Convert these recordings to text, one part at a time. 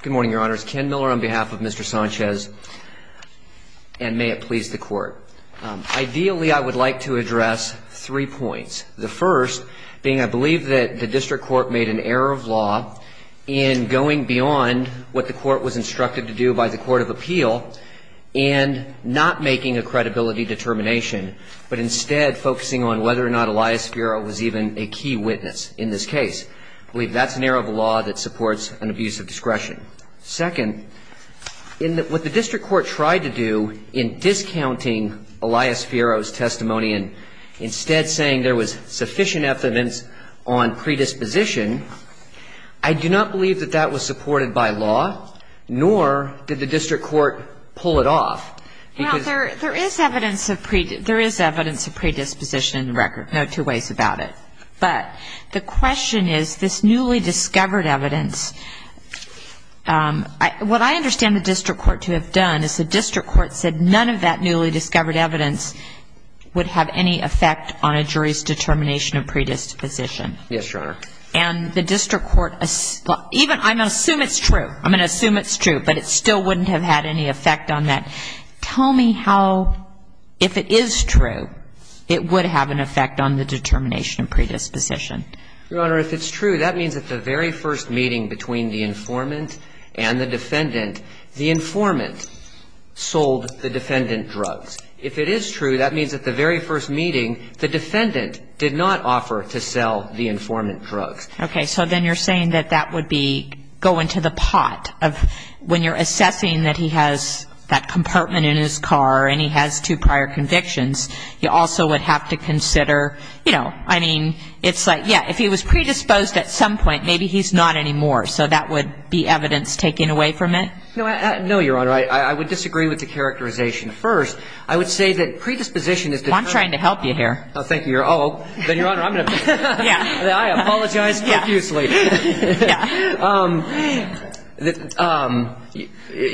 Good morning, your honors. Ken Miller on behalf of Mr. Sanchez, and may it please the court. Ideally, I would like to address three points. The first being I believe that the district court made an error of law in going beyond what the court was instructed to do by the court of appeal and not making a credibility determination, but instead focusing on whether or not Elias Fiora was even a key witness in this case. I believe that's an error of law that supports an abuse of discretion. Second, in what the district court tried to do in discounting Elias Fiora's testimony and instead saying there was sufficient evidence on predisposition, I do not believe that that was supported by law, nor did the district court pull it off. There is evidence of predisposition in the record. No two ways about it. But the question is, this newly discovered evidence, what I understand the district court to have done is the district court said none of that newly discovered evidence would have any effect on a jury's determination of predisposition. Yes, your honor. And the district court, even, I'm going to assume it's true. I'm going to assume it's true, but it still wouldn't have had any effect on that. Tell me how, if it is true, it would have an effect on the determination of predisposition. Your honor, if it's true, that means at the very first meeting between the informant and the defendant, the informant sold the defendant drugs. If it is true, that means at the very first meeting, the defendant did not offer to sell the informant drugs. Okay. So then you're saying that that would be going to the pot of when you're assessing that he has that compartment in his car and he has two prior convictions, he also would have to consider, you know, I mean, it's like, yeah, if he was predisposed at some point, maybe he's not anymore. So that would be evidence taken away from it? No, your honor. I would disagree with the characterization. First, I would say that predisposition is determined. I'm trying to help you here. Oh, thank you, your honor. I apologize profusely.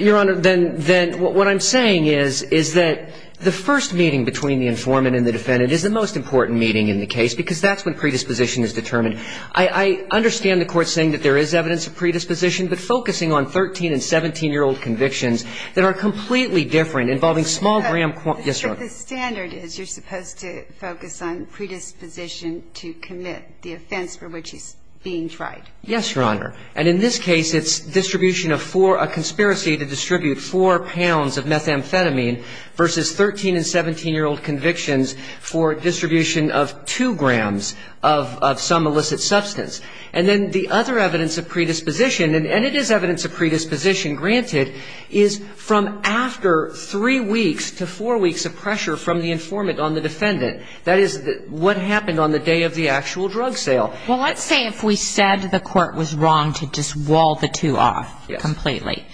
Your honor, then what I'm saying is that the first meeting between the informant and the defendant is the most important meeting in the case because that's when predisposition is determined. I understand the court saying that there is evidence of predisposition, but focusing on 13- and 17-year-old convictions that are completely different, involving small- Yes, your honor. The standard is you're supposed to focus on predisposition to commit the offense for which he's being tried. Yes, your honor. And in this case, it's distribution of four, a conspiracy to distribute four pounds of methamphetamine versus 13- and 17-year-old convictions for distribution of two grams of some illicit substance. And then the other evidence of predisposition, and it is evidence of predisposition, granted, is from after three weeks to four weeks of pressure from the informant on the defendant. That is what happened on the day of the actual drug sale. Well, let's say if we said the court was wrong to just wall the two off completely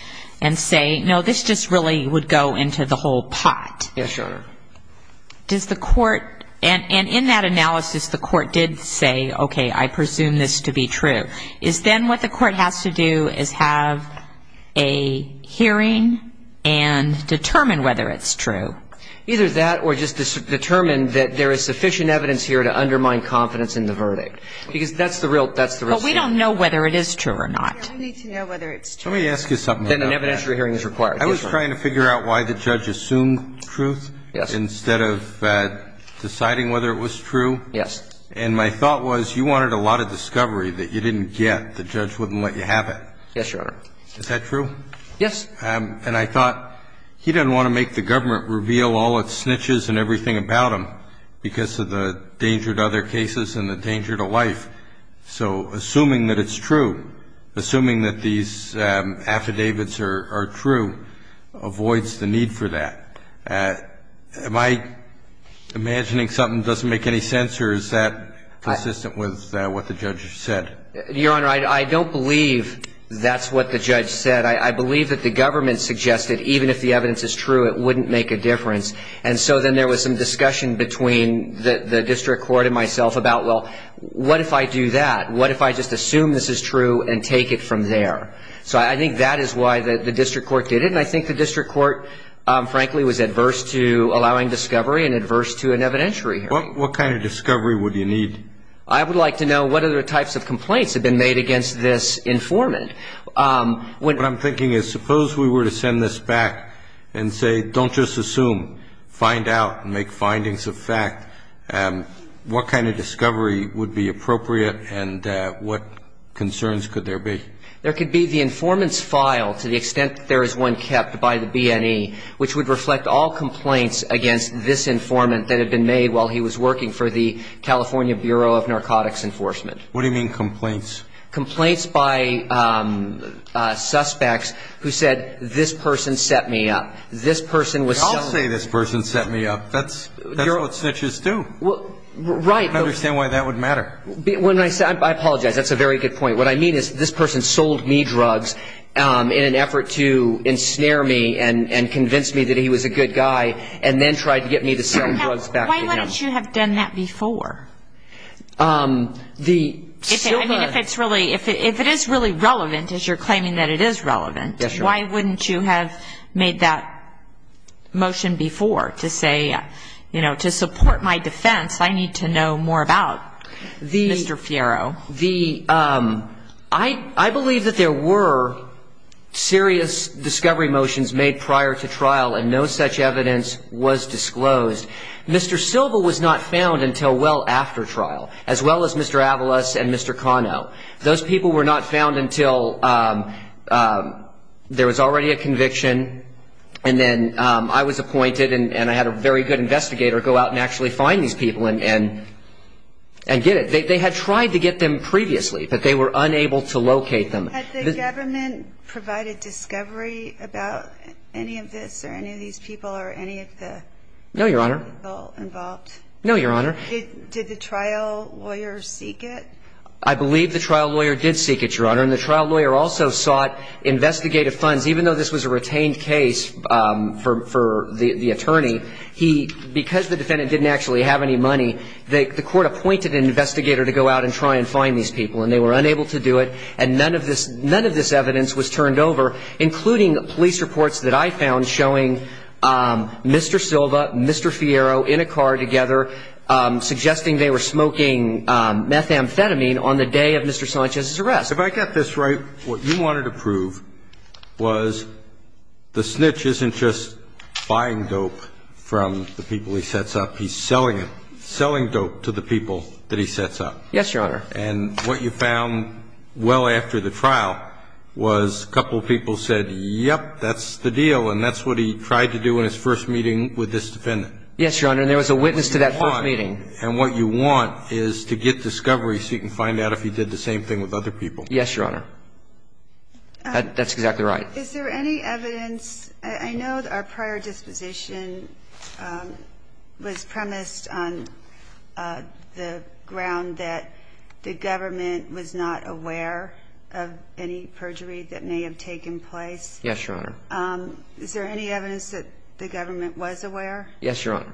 and say, no, this just really would go into the whole pot. Yes, your honor. Does the court – and in that analysis, the court did say, okay, I presume this to be true. Is then what the court has to do is have a hearing and determine whether it's true? Either that or just determine that there is sufficient evidence here to undermine confidence in the verdict. Because that's the real – that's the real issue. But we don't know whether it is true or not. We need to know whether it's true. Let me ask you something about that. Then an evidentiary hearing is required. I was trying to figure out why the judge assumed truth. Yes. Instead of deciding whether it was true. Yes. And my thought was you wanted a lot of discovery that you didn't get. The judge wouldn't let you have it. Yes, your honor. Is that true? Yes. And I thought he didn't want to make the government reveal all its snitches and everything about him because of the danger to other cases and the danger to life. So assuming that it's true, assuming that these affidavits are true, avoids the need for that. Am I imagining something that doesn't make any sense or is that consistent with what the judge said? Your honor, I don't believe that's what the judge said. I believe that the government suggested even if the evidence is true, it wouldn't make a difference. And so then there was some discussion between the district court and myself about, well, what if I do that? What if I just assume this is true and take it from there? So I think that is why the district court did it. And I think the district court, frankly, was adverse to allowing discovery and adverse to an evidentiary hearing. What kind of discovery would you need? I would like to know what other types of complaints have been made against this informant. What I'm thinking is suppose we were to send this back and say, don't just assume, find out and make findings of fact. What kind of discovery would be appropriate and what concerns could there be? There could be the informant's file to the extent that there is one kept by the B&E, which would reflect all complaints against this informant that had been made while he was working for the California Bureau of Narcotics Enforcement. What do you mean complaints? Complaints by suspects who said, this person set me up. This person was sold. I'll say this person set me up. That's what snitches do. Right. I don't understand why that would matter. I apologize. That's a very good point. What I mean is this person sold me drugs in an effort to ensnare me and convince me that he was a good guy and then tried to get me to sell drugs back to him. Why wouldn't you have done that before? If it is really relevant, as you're claiming that it is relevant, why wouldn't you have made that motion before to say, you know, to support my defense I need to know more about Mr. Fierro? I believe that there were serious discovery motions made prior to trial and no such evidence was disclosed. Mr. Silva was not found until well after trial, as well as Mr. Avalos and Mr. Cano. Those people were not found until there was already a conviction and then I was appointed and I had a very good investigator go out and actually find these people and get it. They had tried to get them previously, but they were unable to locate them. Had the government provided discovery about any of this or any of these people or any of the ---- No, Your Honor. No, Your Honor. Did the trial lawyer seek it? I believe the trial lawyer did seek it, Your Honor, and the trial lawyer also sought investigative funds. Even though this was a retained case for the attorney, because the defendant didn't actually have any money, the court appointed an investigator to go out and try and find these people and they were unable to do it and none of this evidence was turned over, including police reports that I found showing Mr. Silva, Mr. Fiero in a car together suggesting they were smoking methamphetamine on the day of Mr. Sanchez's arrest. If I got this right, what you wanted to prove was the snitch isn't just buying dope from the people he sets up. He's selling it, selling dope to the people that he sets up. Yes, Your Honor. And what you found well after the trial was a couple of people said, yep, that's the deal, and that's what he tried to do in his first meeting with this defendant. Yes, Your Honor. And there was a witness to that first meeting. And what you want is to get discovery so you can find out if he did the same thing with other people. Yes, Your Honor. That's exactly right. Is there any evidence ---- I know our prior disposition was premised on the ground that the government was not aware of any perjury that may have taken place. Yes, Your Honor. Is there any evidence that the government was aware? Yes, Your Honor.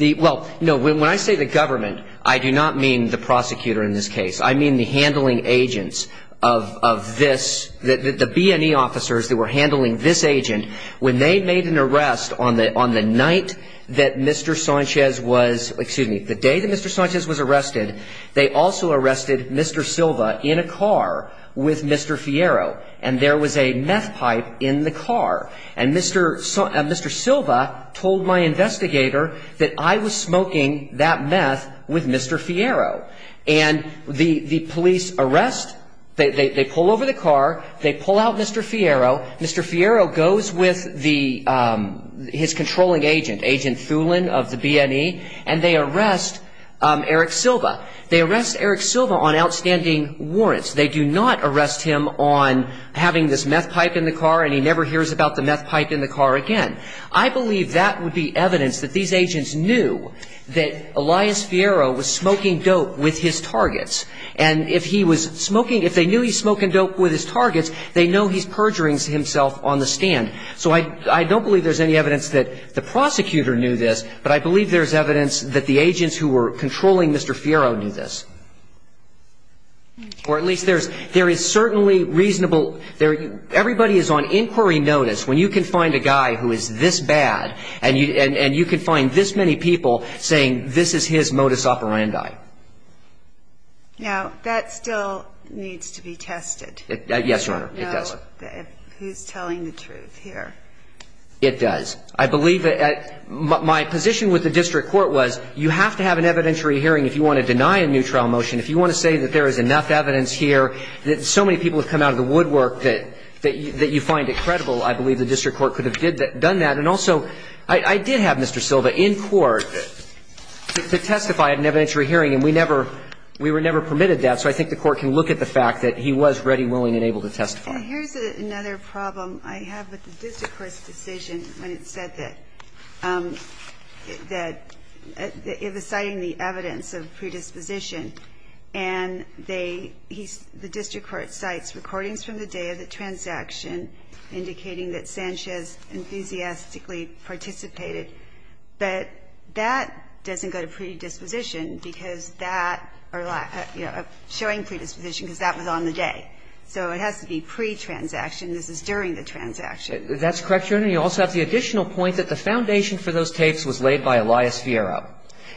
Well, no, when I say the government, I do not mean the prosecutor in this case. I mean the handling agents of this, the B&E officers that were handling this agent. When they made an arrest on the night that Mr. Sanchez was ---- excuse me, the day that Mr. Sanchez was arrested, they also arrested Mr. Silva in a car with Mr. Fierro. And there was a meth pipe in the car. And Mr. Silva told my investigator that I was smoking that meth with Mr. Fierro. And the police arrest, they pull over the car, they pull out Mr. Fierro. Mr. Fierro goes with the ---- his controlling agent, Agent Thulin of the B&E, and they arrest Eric Silva. They arrest Eric Silva on outstanding warrants. They do not arrest him on having this meth pipe in the car and he never hears about the meth pipe in the car again. I believe that would be evidence that these agents knew that Elias Fierro was smoking dope with his targets. And if he was smoking, if they knew he was smoking dope with his targets, they know he's perjuring himself on the stand. So I don't believe there's any evidence that the prosecutor knew this, but I believe there's evidence that the agents who were controlling Mr. Fierro knew this. Or at least there is certainly reasonable ---- everybody is on inquiry notice when you can find a guy who is this bad and you can find this many people saying this is his modus operandi. Now, that still needs to be tested. Yes, Your Honor, it does. To know who's telling the truth here. It does. I believe that my position with the district court was you have to have an evidentiary hearing if you want to deny a new trial motion. If you want to say that there is enough evidence here, that so many people have come out of the woodwork that you find it credible, I believe the district court could have done that. And also, I did have Mr. Silva in court to testify at an evidentiary hearing, and we never ---- we were never permitted that. So I think the court can look at the fact that he was ready, willing, and able to testify. And here's another problem I have with the district court's decision when it said that it was citing the evidence of predisposition, and they ---- the district court cites recordings from the day of the transaction indicating that Sanchez enthusiastically participated, but that doesn't go to predisposition because that or, you know, showing predisposition because that was on the day. So it has to be pre-transaction. This is during the transaction. That's correct, Your Honor. You also have the additional point that the foundation for those tapes was laid by Elias Fiero.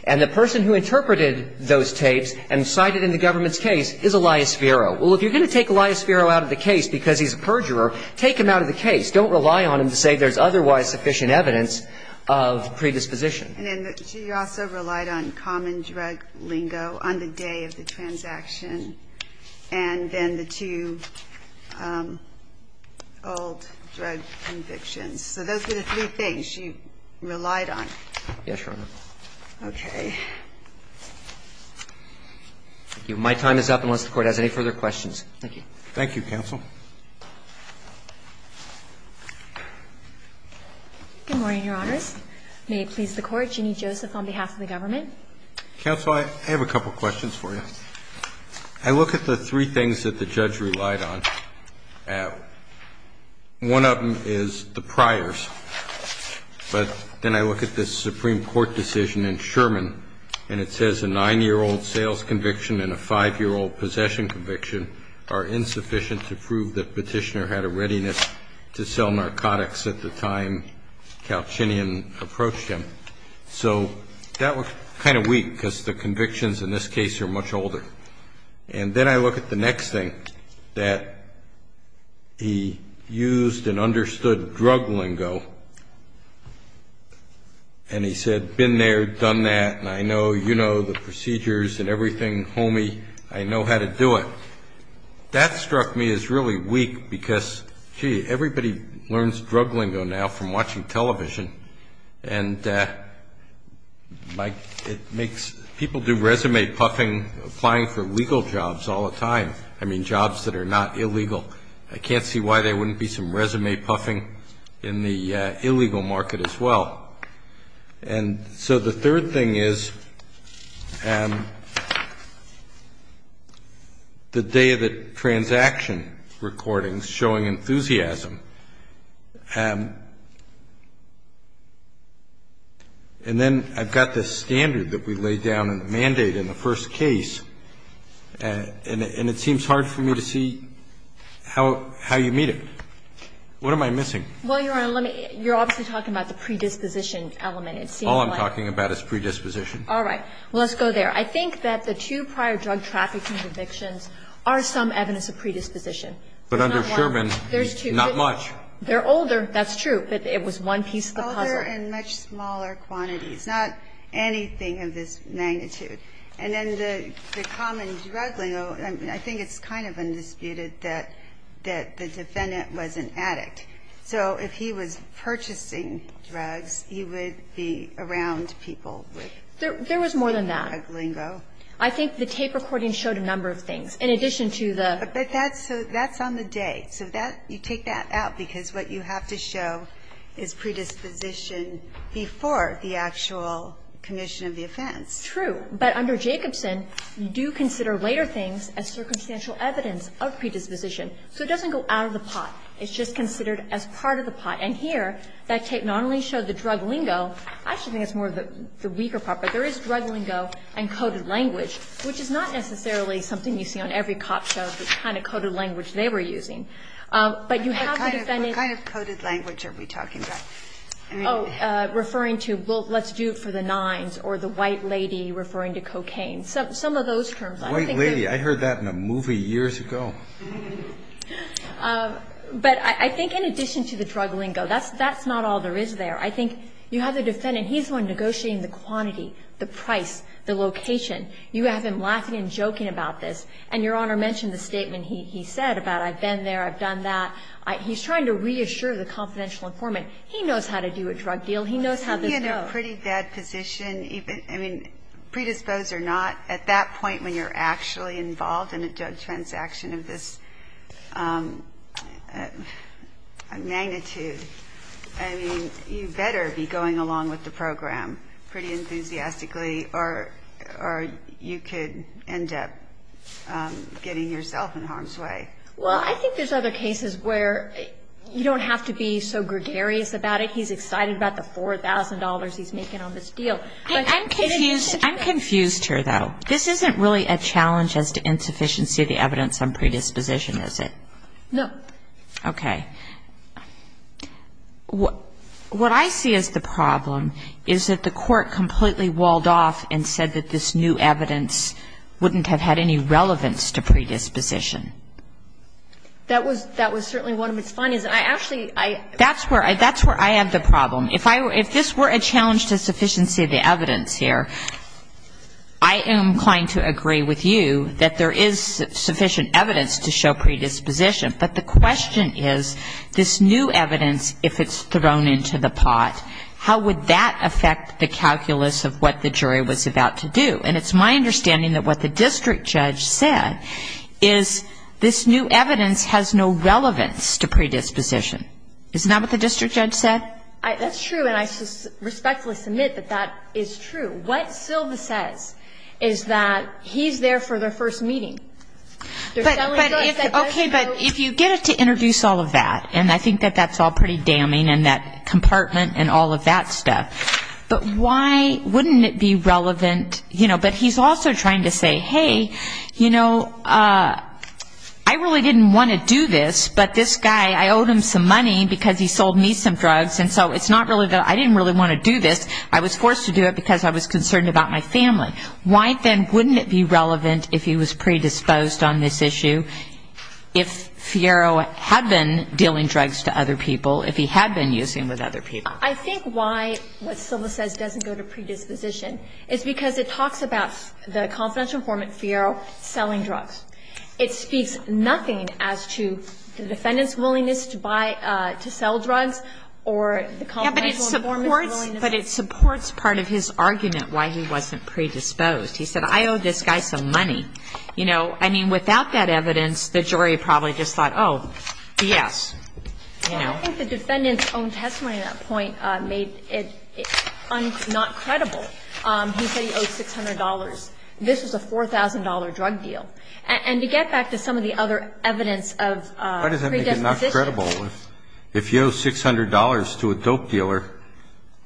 And the person who interpreted those tapes and cited in the government's case is Elias Fiero. Well, if you're going to take Elias Fiero out of the case because he's a perjurer, take him out of the case. Don't rely on him to say there's otherwise sufficient evidence of predisposition. And then she also relied on common drug lingo on the day of the transaction, and then the two old drug convictions. So those were the three things she relied on. Yes, Your Honor. Okay. Thank you. My time is up unless the Court has any further questions. Thank you. Thank you, counsel. Good morning, Your Honors. May it please the Court. Ginny Joseph on behalf of the government. Counsel, I have a couple questions for you. I look at the three things that the judge relied on. One of them is the priors, but then I look at this Supreme Court decision in Sherman, and it says a 9-year-old sales conviction and a 5-year-old possession conviction are insufficient to prove that Petitioner had a readiness to sell narcotics at the time Calchinian approached him. So that looks kind of weak because the convictions in this case are much older. And then I look at the next thing, that he used and understood drug lingo, and he said, been there, done that, and I know you know the procedures and everything, homie. I know how to do it. That struck me as really weak because, gee, everybody learns drug lingo now from watching television, and it makes people do resume puffing, applying for legal jobs all the time. I mean jobs that are not illegal. I can't see why there wouldn't be some resume puffing in the illegal market as well. And so the third thing is the day of the transaction recordings showing enthusiasm, and then I've got this standard that we laid down in the mandate in the first case, and it seems hard for me to see how you meet it. What am I missing? Well, Your Honor, you're obviously talking about the predisposition element. All I'm talking about is predisposition. All right. Well, let's go there. I think that the two prior drug trafficking convictions are some evidence of predisposition. But under Sherman, not much. They're older, that's true, but it was one piece of the puzzle. Older and much smaller quantities, not anything of this magnitude. And then the common drug lingo, I think it's kind of undisputed that the defendant was an addict. So if he was purchasing drugs, he would be around people with drug lingo. There was more than that. I think the tape recording showed a number of things. In addition to the ---- But that's on the day. So that, you take that out, because what you have to show is predisposition before the actual commission of the offense. True. But under Jacobson, you do consider later things as circumstantial evidence of predisposition. So it doesn't go out of the pot. It's just considered as part of the pot. And here, that tape not only showed the drug lingo, I actually think it's more of the weaker part, but there is drug lingo and coded language, which is not necessarily something you see on every cop show, the kind of coded language they were using. But you have the defendant ---- What kind of coded language are we talking about? Oh, referring to, well, let's do it for the nines, or the white lady referring to cocaine, some of those terms. White lady. I heard that in a movie years ago. But I think in addition to the drug lingo, that's not all there is there. I think you have the defendant. He's the one negotiating the quantity, the price, the location. You have him laughing and joking about this. And Your Honor mentioned the statement he said about I've been there, I've done that. He's trying to reassure the confidential informant. He knows how to do a drug deal. He knows how this goes. He's in a pretty bad position, I mean, predisposed or not, at that point when you're actually involved in a drug transaction of this magnitude, I mean, you better be going along with the program pretty enthusiastically or you could end up getting yourself in harm's way. Well, I think there's other cases where you don't have to be so gregarious about it. He's excited about the $4,000 he's making on this deal. I'm confused here, though. This isn't really a challenge as to insufficiency of the evidence on predisposition, is it? No. Okay. What I see as the problem is that the court completely walled off and said that this new evidence wouldn't have had any relevance to predisposition. That was certainly one of its findings. I actually ‑‑ That's where I have the problem. If this were a challenge to sufficiency of the evidence here, I am inclined to agree with you that there is sufficient evidence to show predisposition, but the question is this new evidence, if it's thrown into the pot, how would that affect the calculus of what the jury was about to do? And it's my understanding that what the district judge said is this new evidence has no relevance to predisposition. Isn't that what the district judge said? That's true, and I respectfully submit that that is true. What Silva says is that he's there for their first meeting. Okay, but if you get it to introduce all of that, and I think that that's all pretty damning and that compartment and all of that stuff, but why wouldn't it be relevant, you know, but he's also trying to say, hey, you know, I really didn't want to do this, but this guy, I owed him some money because he sold me some drugs, and so it's not really that I didn't really want to do this. I was forced to do it because I was concerned about my family. Why then wouldn't it be relevant if he was predisposed on this issue if Fiero had been dealing drugs to other people, if he had been using them with other people? I think why what Silva says doesn't go to predisposition is because it talks about the confidential form of Fiero selling drugs. It speaks nothing as to the defendant's willingness to buy, to sell drugs or the confidential form of his willingness. But it supports part of his argument why he wasn't predisposed. He said, I owed this guy some money. You know, I mean, without that evidence, the jury probably just thought, oh, yes, you know. Well, I think the defendant's own testimony at that point made it not credible. He said he owed $600. This was a $4,000 drug deal. And to get back to some of the other evidence of predisposition. Why does that make it not credible? If you owe $600 to a dope dealer,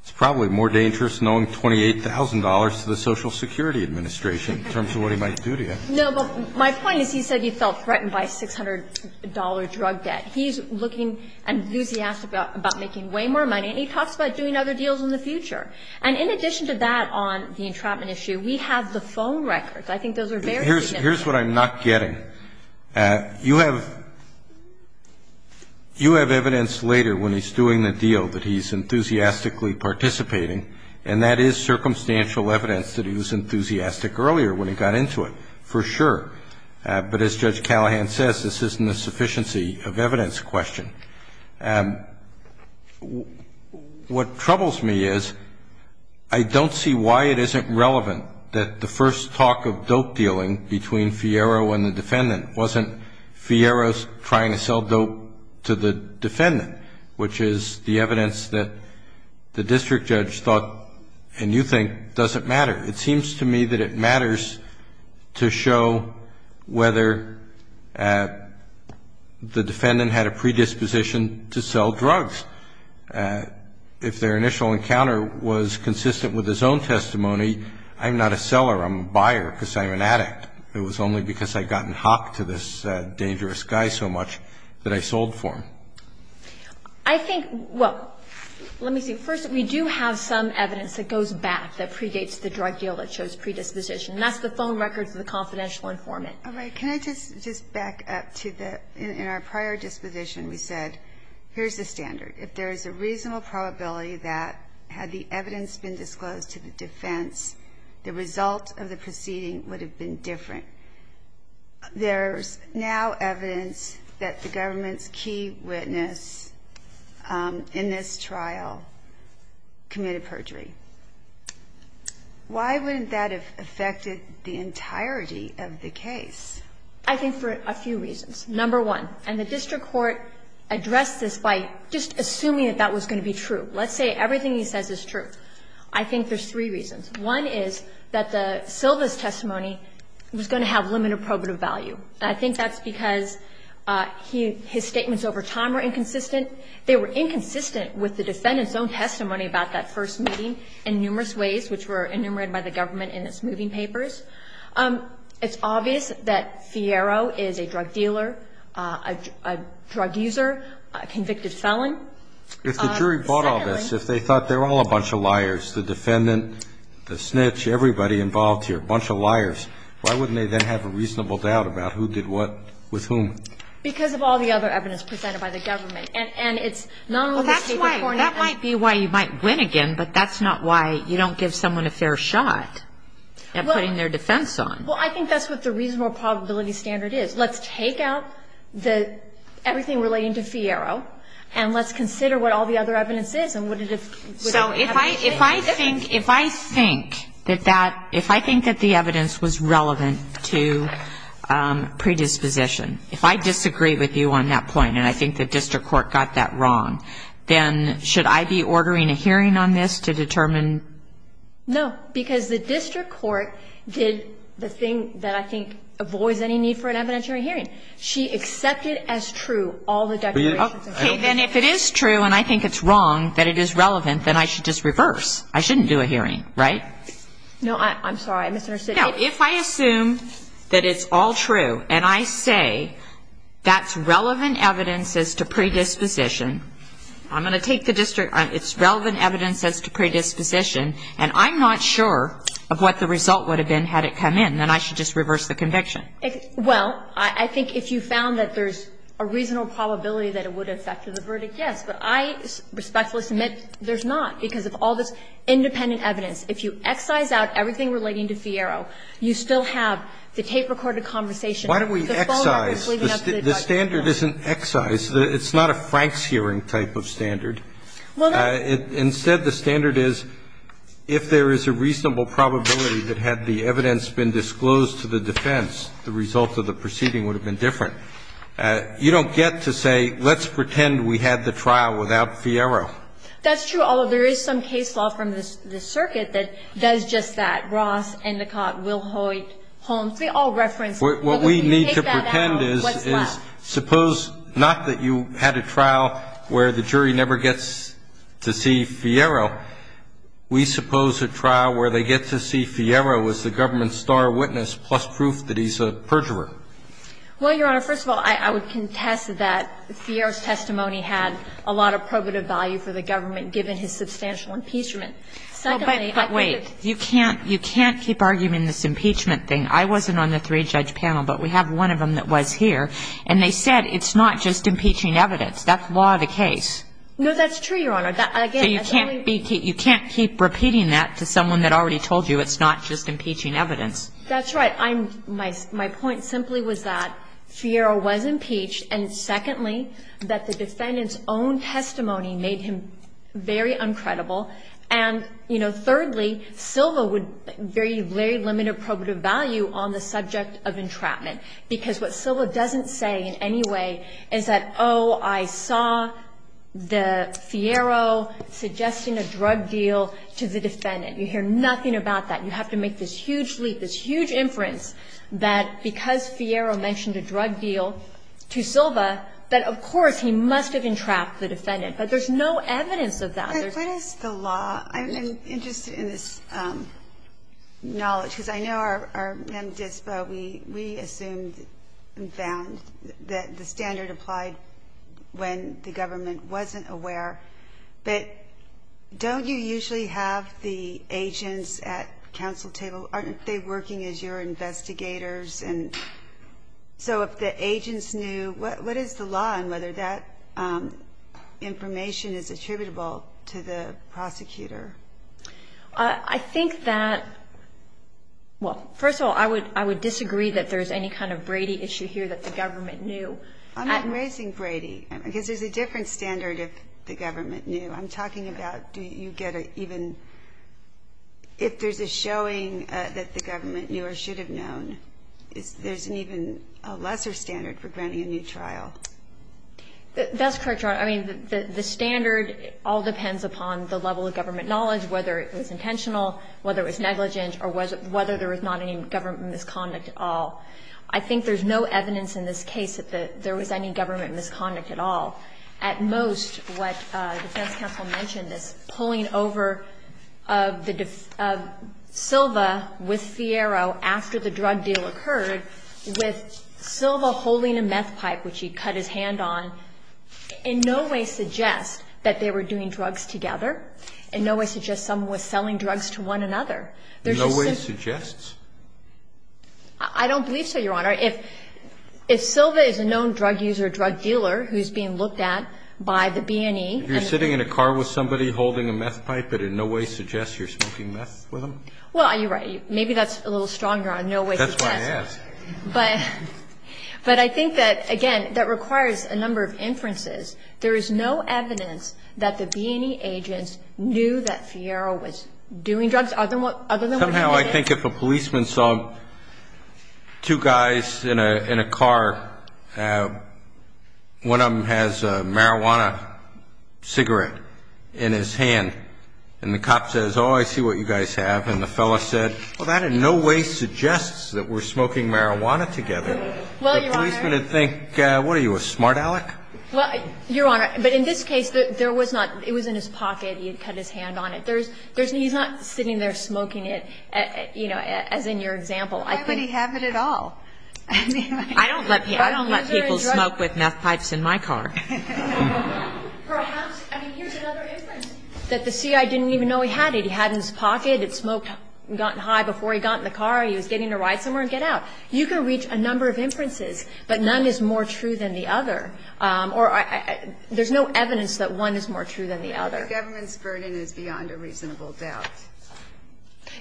it's probably more dangerous knowing $28,000 to the Social Security Administration in terms of what he might do to you. No, but my point is he said he felt threatened by $600 drug debt. He's looking enthusiastic about making way more money, and he talks about doing other deals in the future. And in addition to that on the entrapment issue, we have the phone records. I think those are very significant. Here's what I'm not getting. You have evidence later when he's doing the deal that he's enthusiastically participating, and that is circumstantial evidence that he was enthusiastic earlier when he got into it, for sure. But as Judge Callahan says, this isn't a sufficiency of evidence question. What troubles me is I don't see why it isn't relevant that the first talk of dope dealing between Fiero and the defendant wasn't Fiero trying to sell dope to the defendant, which is the evidence that the district judge thought, and you think, doesn't matter. It seems to me that it matters to show whether the defendant had a predisposition to sell drugs. If their initial encounter was consistent with his own testimony, I'm not a seller. I'm a buyer because I'm an addict. It was only because I'd gotten hocked to this dangerous guy so much that I sold for him. I think, well, let me see. First, we do have some evidence that goes back that predates the drug deal that shows predisposition, and that's the phone records of the confidential informant. All right. Can I just back up to the, in our prior disposition, we said, here's the standard. If there's a reasonable probability that had the evidence been disclosed to the defense, the result of the proceeding would have been different. There's now evidence that the government's key witness in this trial committed perjury. Why wouldn't that have affected the entirety of the case? I think for a few reasons. Number one, and the district court addressed this by just assuming that that was going to be true. Let's say everything he says is true. I think there's three reasons. One is that the Silva's testimony was going to have limited probative value. I think that's because he, his statements over time were inconsistent. They were inconsistent with the defendant's own testimony about that first meeting. And number two, I think that the court's decision to dismiss the defendant It was a mistake in numerous ways which were enumerated by the government in its moving papers. It's obvious that Fiero is a drug dealer, a drug user, a convicted felon. If the jury bought all this, if they thought they were all a bunch of liars, the defendant, the snitch, everybody involved here, a bunch of liars, why wouldn't they then have a reasonable doubt about who did what with whom? Because of all the other evidence presented by the government. And it's not only the state reporting. That might be why you might win again, but that's not why you don't give someone a fair shot at putting their defense on. Well, I think that's what the reasonable probability standard is. Let's take out everything relating to Fiero and let's consider what all the other evidence is and what it is. So if I think that that, if I think that the evidence was relevant to predisposition, if I disagree with you on that point and I think the district court got that wrong, then should I be ordering a hearing on this to determine? No. Because the district court did the thing that I think avoids any need for an evidentiary hearing. She accepted as true all the declarations. Okay. Then if it is true and I think it's wrong that it is relevant, then I should just reverse. I shouldn't do a hearing, right? No. I'm sorry. I misunderstood. No. If I assume that it's all true and I say that's relevant evidence as to predisposition, I'm going to take the district, it's relevant evidence as to predisposition, and I'm not sure of what the result would have been had it come in, then I should just reverse the conviction. Well, I think if you found that there's a reasonable probability that it would affect the verdict, yes. But I respectfully submit there's not because of all this independent evidence. If you excise out everything relating to Fiero, you still have the tape-recorded conversation. Why don't we excise? The standard isn't excise. It's not a Frank's hearing type of standard. Instead, the standard is if there is a reasonable probability that had the evidence been disclosed to the defense, the result of the proceeding would have been different. You don't get to say let's pretend we had the trial without Fiero. That's true. Although there is some case law from the circuit that does just that. Ross, Endicott, Wilhoit, Holmes, they all reference. What we need to pretend is suppose not that you had a trial where the jury never gets to see Fiero. We suppose a trial where they get to see Fiero is the government's star witness plus proof that he's a perjurer. Well, Your Honor, first of all, I would contest that Fiero's testimony had a lot of relative value for the government given his substantial impeachment. Secondly, I think that you can't keep arguing this impeachment thing. I wasn't on the three-judge panel, but we have one of them that was here, and they said it's not just impeaching evidence. That's law of the case. No, that's true, Your Honor. Again, that's only. So you can't keep repeating that to someone that already told you it's not just impeaching evidence. That's right. My point simply was that Fiero was impeached, and secondly, that the defendant's own testimony made him very uncredible. And, you know, thirdly, Silva would very limited probative value on the subject of entrapment, because what Silva doesn't say in any way is that, oh, I saw the Fiero suggesting a drug deal to the defendant. You hear nothing about that. You have to make this huge leap, this huge inference that because Fiero mentioned a drug deal to Silva, that, of course, he must have entrapped the defendant. But there's no evidence of that. There's no evidence of that. But what is the law? I'm interested in this knowledge, because I know our men at DSPA, we assumed and found that the standard applied when the government wasn't aware. But don't you usually have the agents at counsel table? Aren't they working as your investigators? And so if the agents knew, what is the law on whether that information is attributable to the prosecutor? I think that, well, first of all, I would disagree that there's any kind of Brady issue here that the government knew. I'm not raising Brady, because there's a different standard if the government knew. I'm talking about do you get an even, if there's a showing that the government knew or should have known, there's an even lesser standard for granting a new trial. That's correct, Your Honor. I mean, the standard all depends upon the level of government knowledge, whether it was intentional, whether it was negligent, or whether there was not any government misconduct at all. I think there's no evidence in this case that there was any government misconduct at all. At most, what the defense counsel mentioned is pulling over of Silva with Fiero after the drug deal occurred, with Silva holding a meth pipe, which he cut his hand on, in no way suggests that they were doing drugs together. In no way suggests someone was selling drugs to one another. In no way suggests? I don't believe so, Your Honor. If Silva is a known drug user, drug dealer who's being looked at by the B&E. If you're sitting in a car with somebody holding a meth pipe, it in no way suggests you're smoking meth with them? Well, you're right. Maybe that's a little stronger on no way suggests. That's what I asked. But I think that, again, that requires a number of inferences. There is no evidence that the B&E agents knew that Fiero was doing drugs other than what he did. Somehow I think if a policeman saw two guys in a car, one of them has a marijuana cigarette in his hand. And the cop says, oh, I see what you guys have. And the fellow said, well, that in no way suggests that we're smoking marijuana together. Well, Your Honor. The policeman would think, what are you, a smart aleck? Well, Your Honor, but in this case, it was in his pocket. He had cut his hand on it. He's not sitting there smoking it, you know, as in your example. Why would he have it at all? I don't let people smoke with meth pipes in my car. Perhaps, I mean, here's another inference. That the C.I. didn't even know he had it. He had it in his pocket. It smoked and got high before he got in the car. He was getting to ride somewhere and get out. You can reach a number of inferences, but none is more true than the other. Or there's no evidence that one is more true than the other. The government's burden is beyond a reasonable doubt.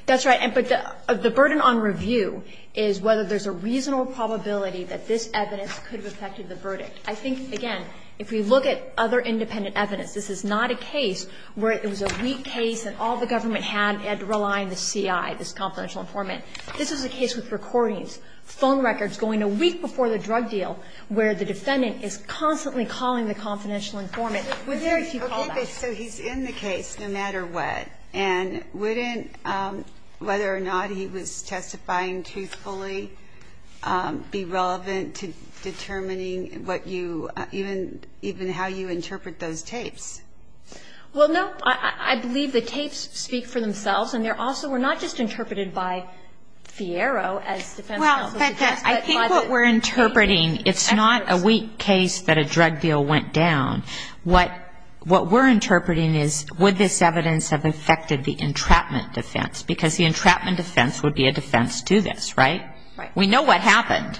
That's right. But the burden on review is whether there's a reasonable probability that this evidence could have affected the verdict. I think, again, if we look at other independent evidence, this is not a case where it was a weak case and all the government had to rely on the C.I., this confidential informant. This is a case with recordings, phone records going a week before the drug deal where the defendant is constantly calling the confidential informant with very few callbacks. So he's in the case no matter what. And wouldn't whether or not he was testifying truthfully be relevant to determining even how you interpret those tapes? Well, no. I believe the tapes speak for themselves. And they also were not just interpreted by Fiero as defense counsel. Well, I think what we're interpreting, it's not a weak case that a drug deal went down. What we're interpreting is would this evidence have affected the entrapment defense? Because the entrapment defense would be a defense to this, right? Right. We know what happened.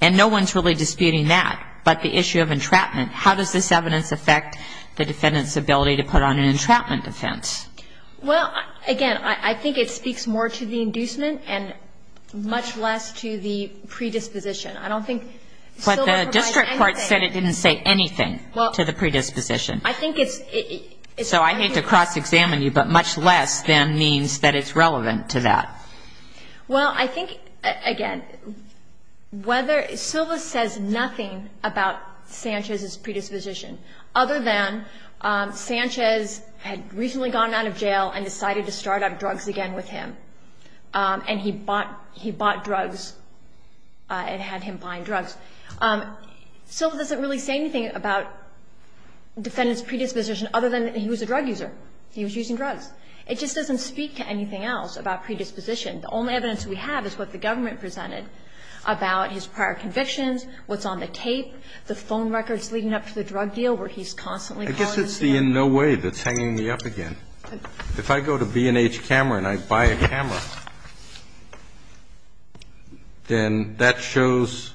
And no one's really disputing that, but the issue of entrapment. How does this evidence affect the defendant's ability to put on an entrapment defense? Well, again, I think it speaks more to the inducement and much less to the predisposition. I don't think SILVA provides anything. But the district court said it didn't say anything to the predisposition. I think it's... So I hate to cross-examine you, but much less than means that it's relevant to that. Well, I think, again, whether SILVA says nothing about Sanchez's predisposition other than Sanchez had recently gone out of jail and decided to start up drugs again with him. And he bought drugs and had him buying drugs. SILVA doesn't really say anything about the defendant's predisposition other than he was a drug user. He was using drugs. It just doesn't speak to anything else about predisposition. The only evidence we have is what the government presented about his prior convictions, what's on the tape, the phone records leading up to the drug deal where he's constantly calling himself... I guess it's the in no way that's hanging me up again. If I go to B&H Camera and I buy a camera, then that shows,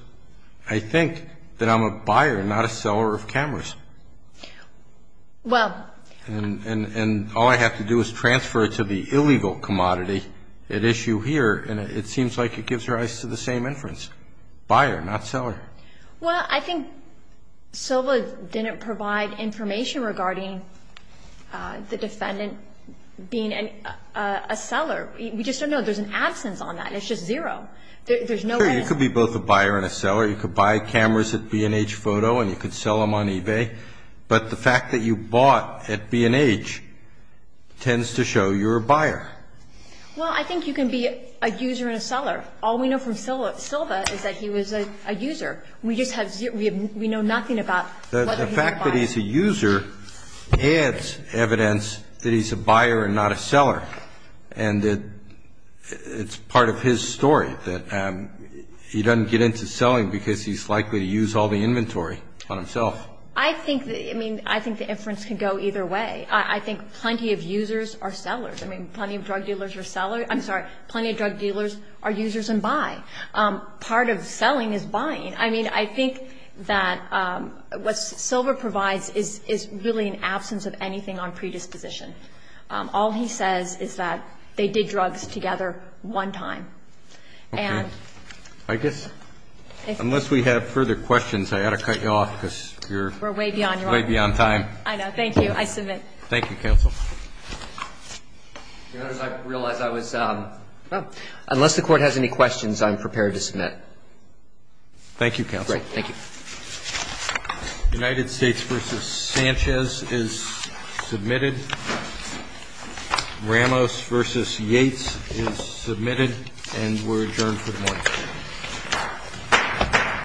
I think, that I'm a buyer, not a seller of cameras. Well... And all I have to do is transfer it to the illegal commodity at issue here, and it seems like it gives rise to the same inference. Buyer, not seller. Well, I think SILVA didn't provide information regarding the defendant being a seller. We just don't know. There's an absence on that. It's just zero. There's no evidence. Sure, you could be both a buyer and a seller. You could buy cameras at B&H Photo and you could sell them on eBay. But the fact that you bought at B&H tends to show you're a buyer. Well, I think you can be a user and a seller. All we know from SILVA is that he was a user. We know nothing about whether he was a buyer. The fact that he's a user adds evidence that he's a buyer and not a seller, and it's part of his story that he doesn't get into selling because he's likely to use all the inventory on himself. I think the inference can go either way. I think plenty of users are sellers. I mean, plenty of drug dealers are sellers. I'm sorry. Plenty of drug dealers are users and buy. Part of selling is buying. I mean, I think that what SILVA provides is really an absence of anything on predisposition. All he says is that they did drugs together one time. Okay. I guess, unless we have further questions, I ought to cut you off because you're way beyond your hour. We're way beyond time. I know. Thank you. I submit. Thank you, counsel. I realize I was unless the Court has any questions, I'm prepared to submit. Thank you, counsel. Great. Thank you. United States v. Sanchez is submitted. Ramos v. Yates is submitted, and we're adjourned for the morning.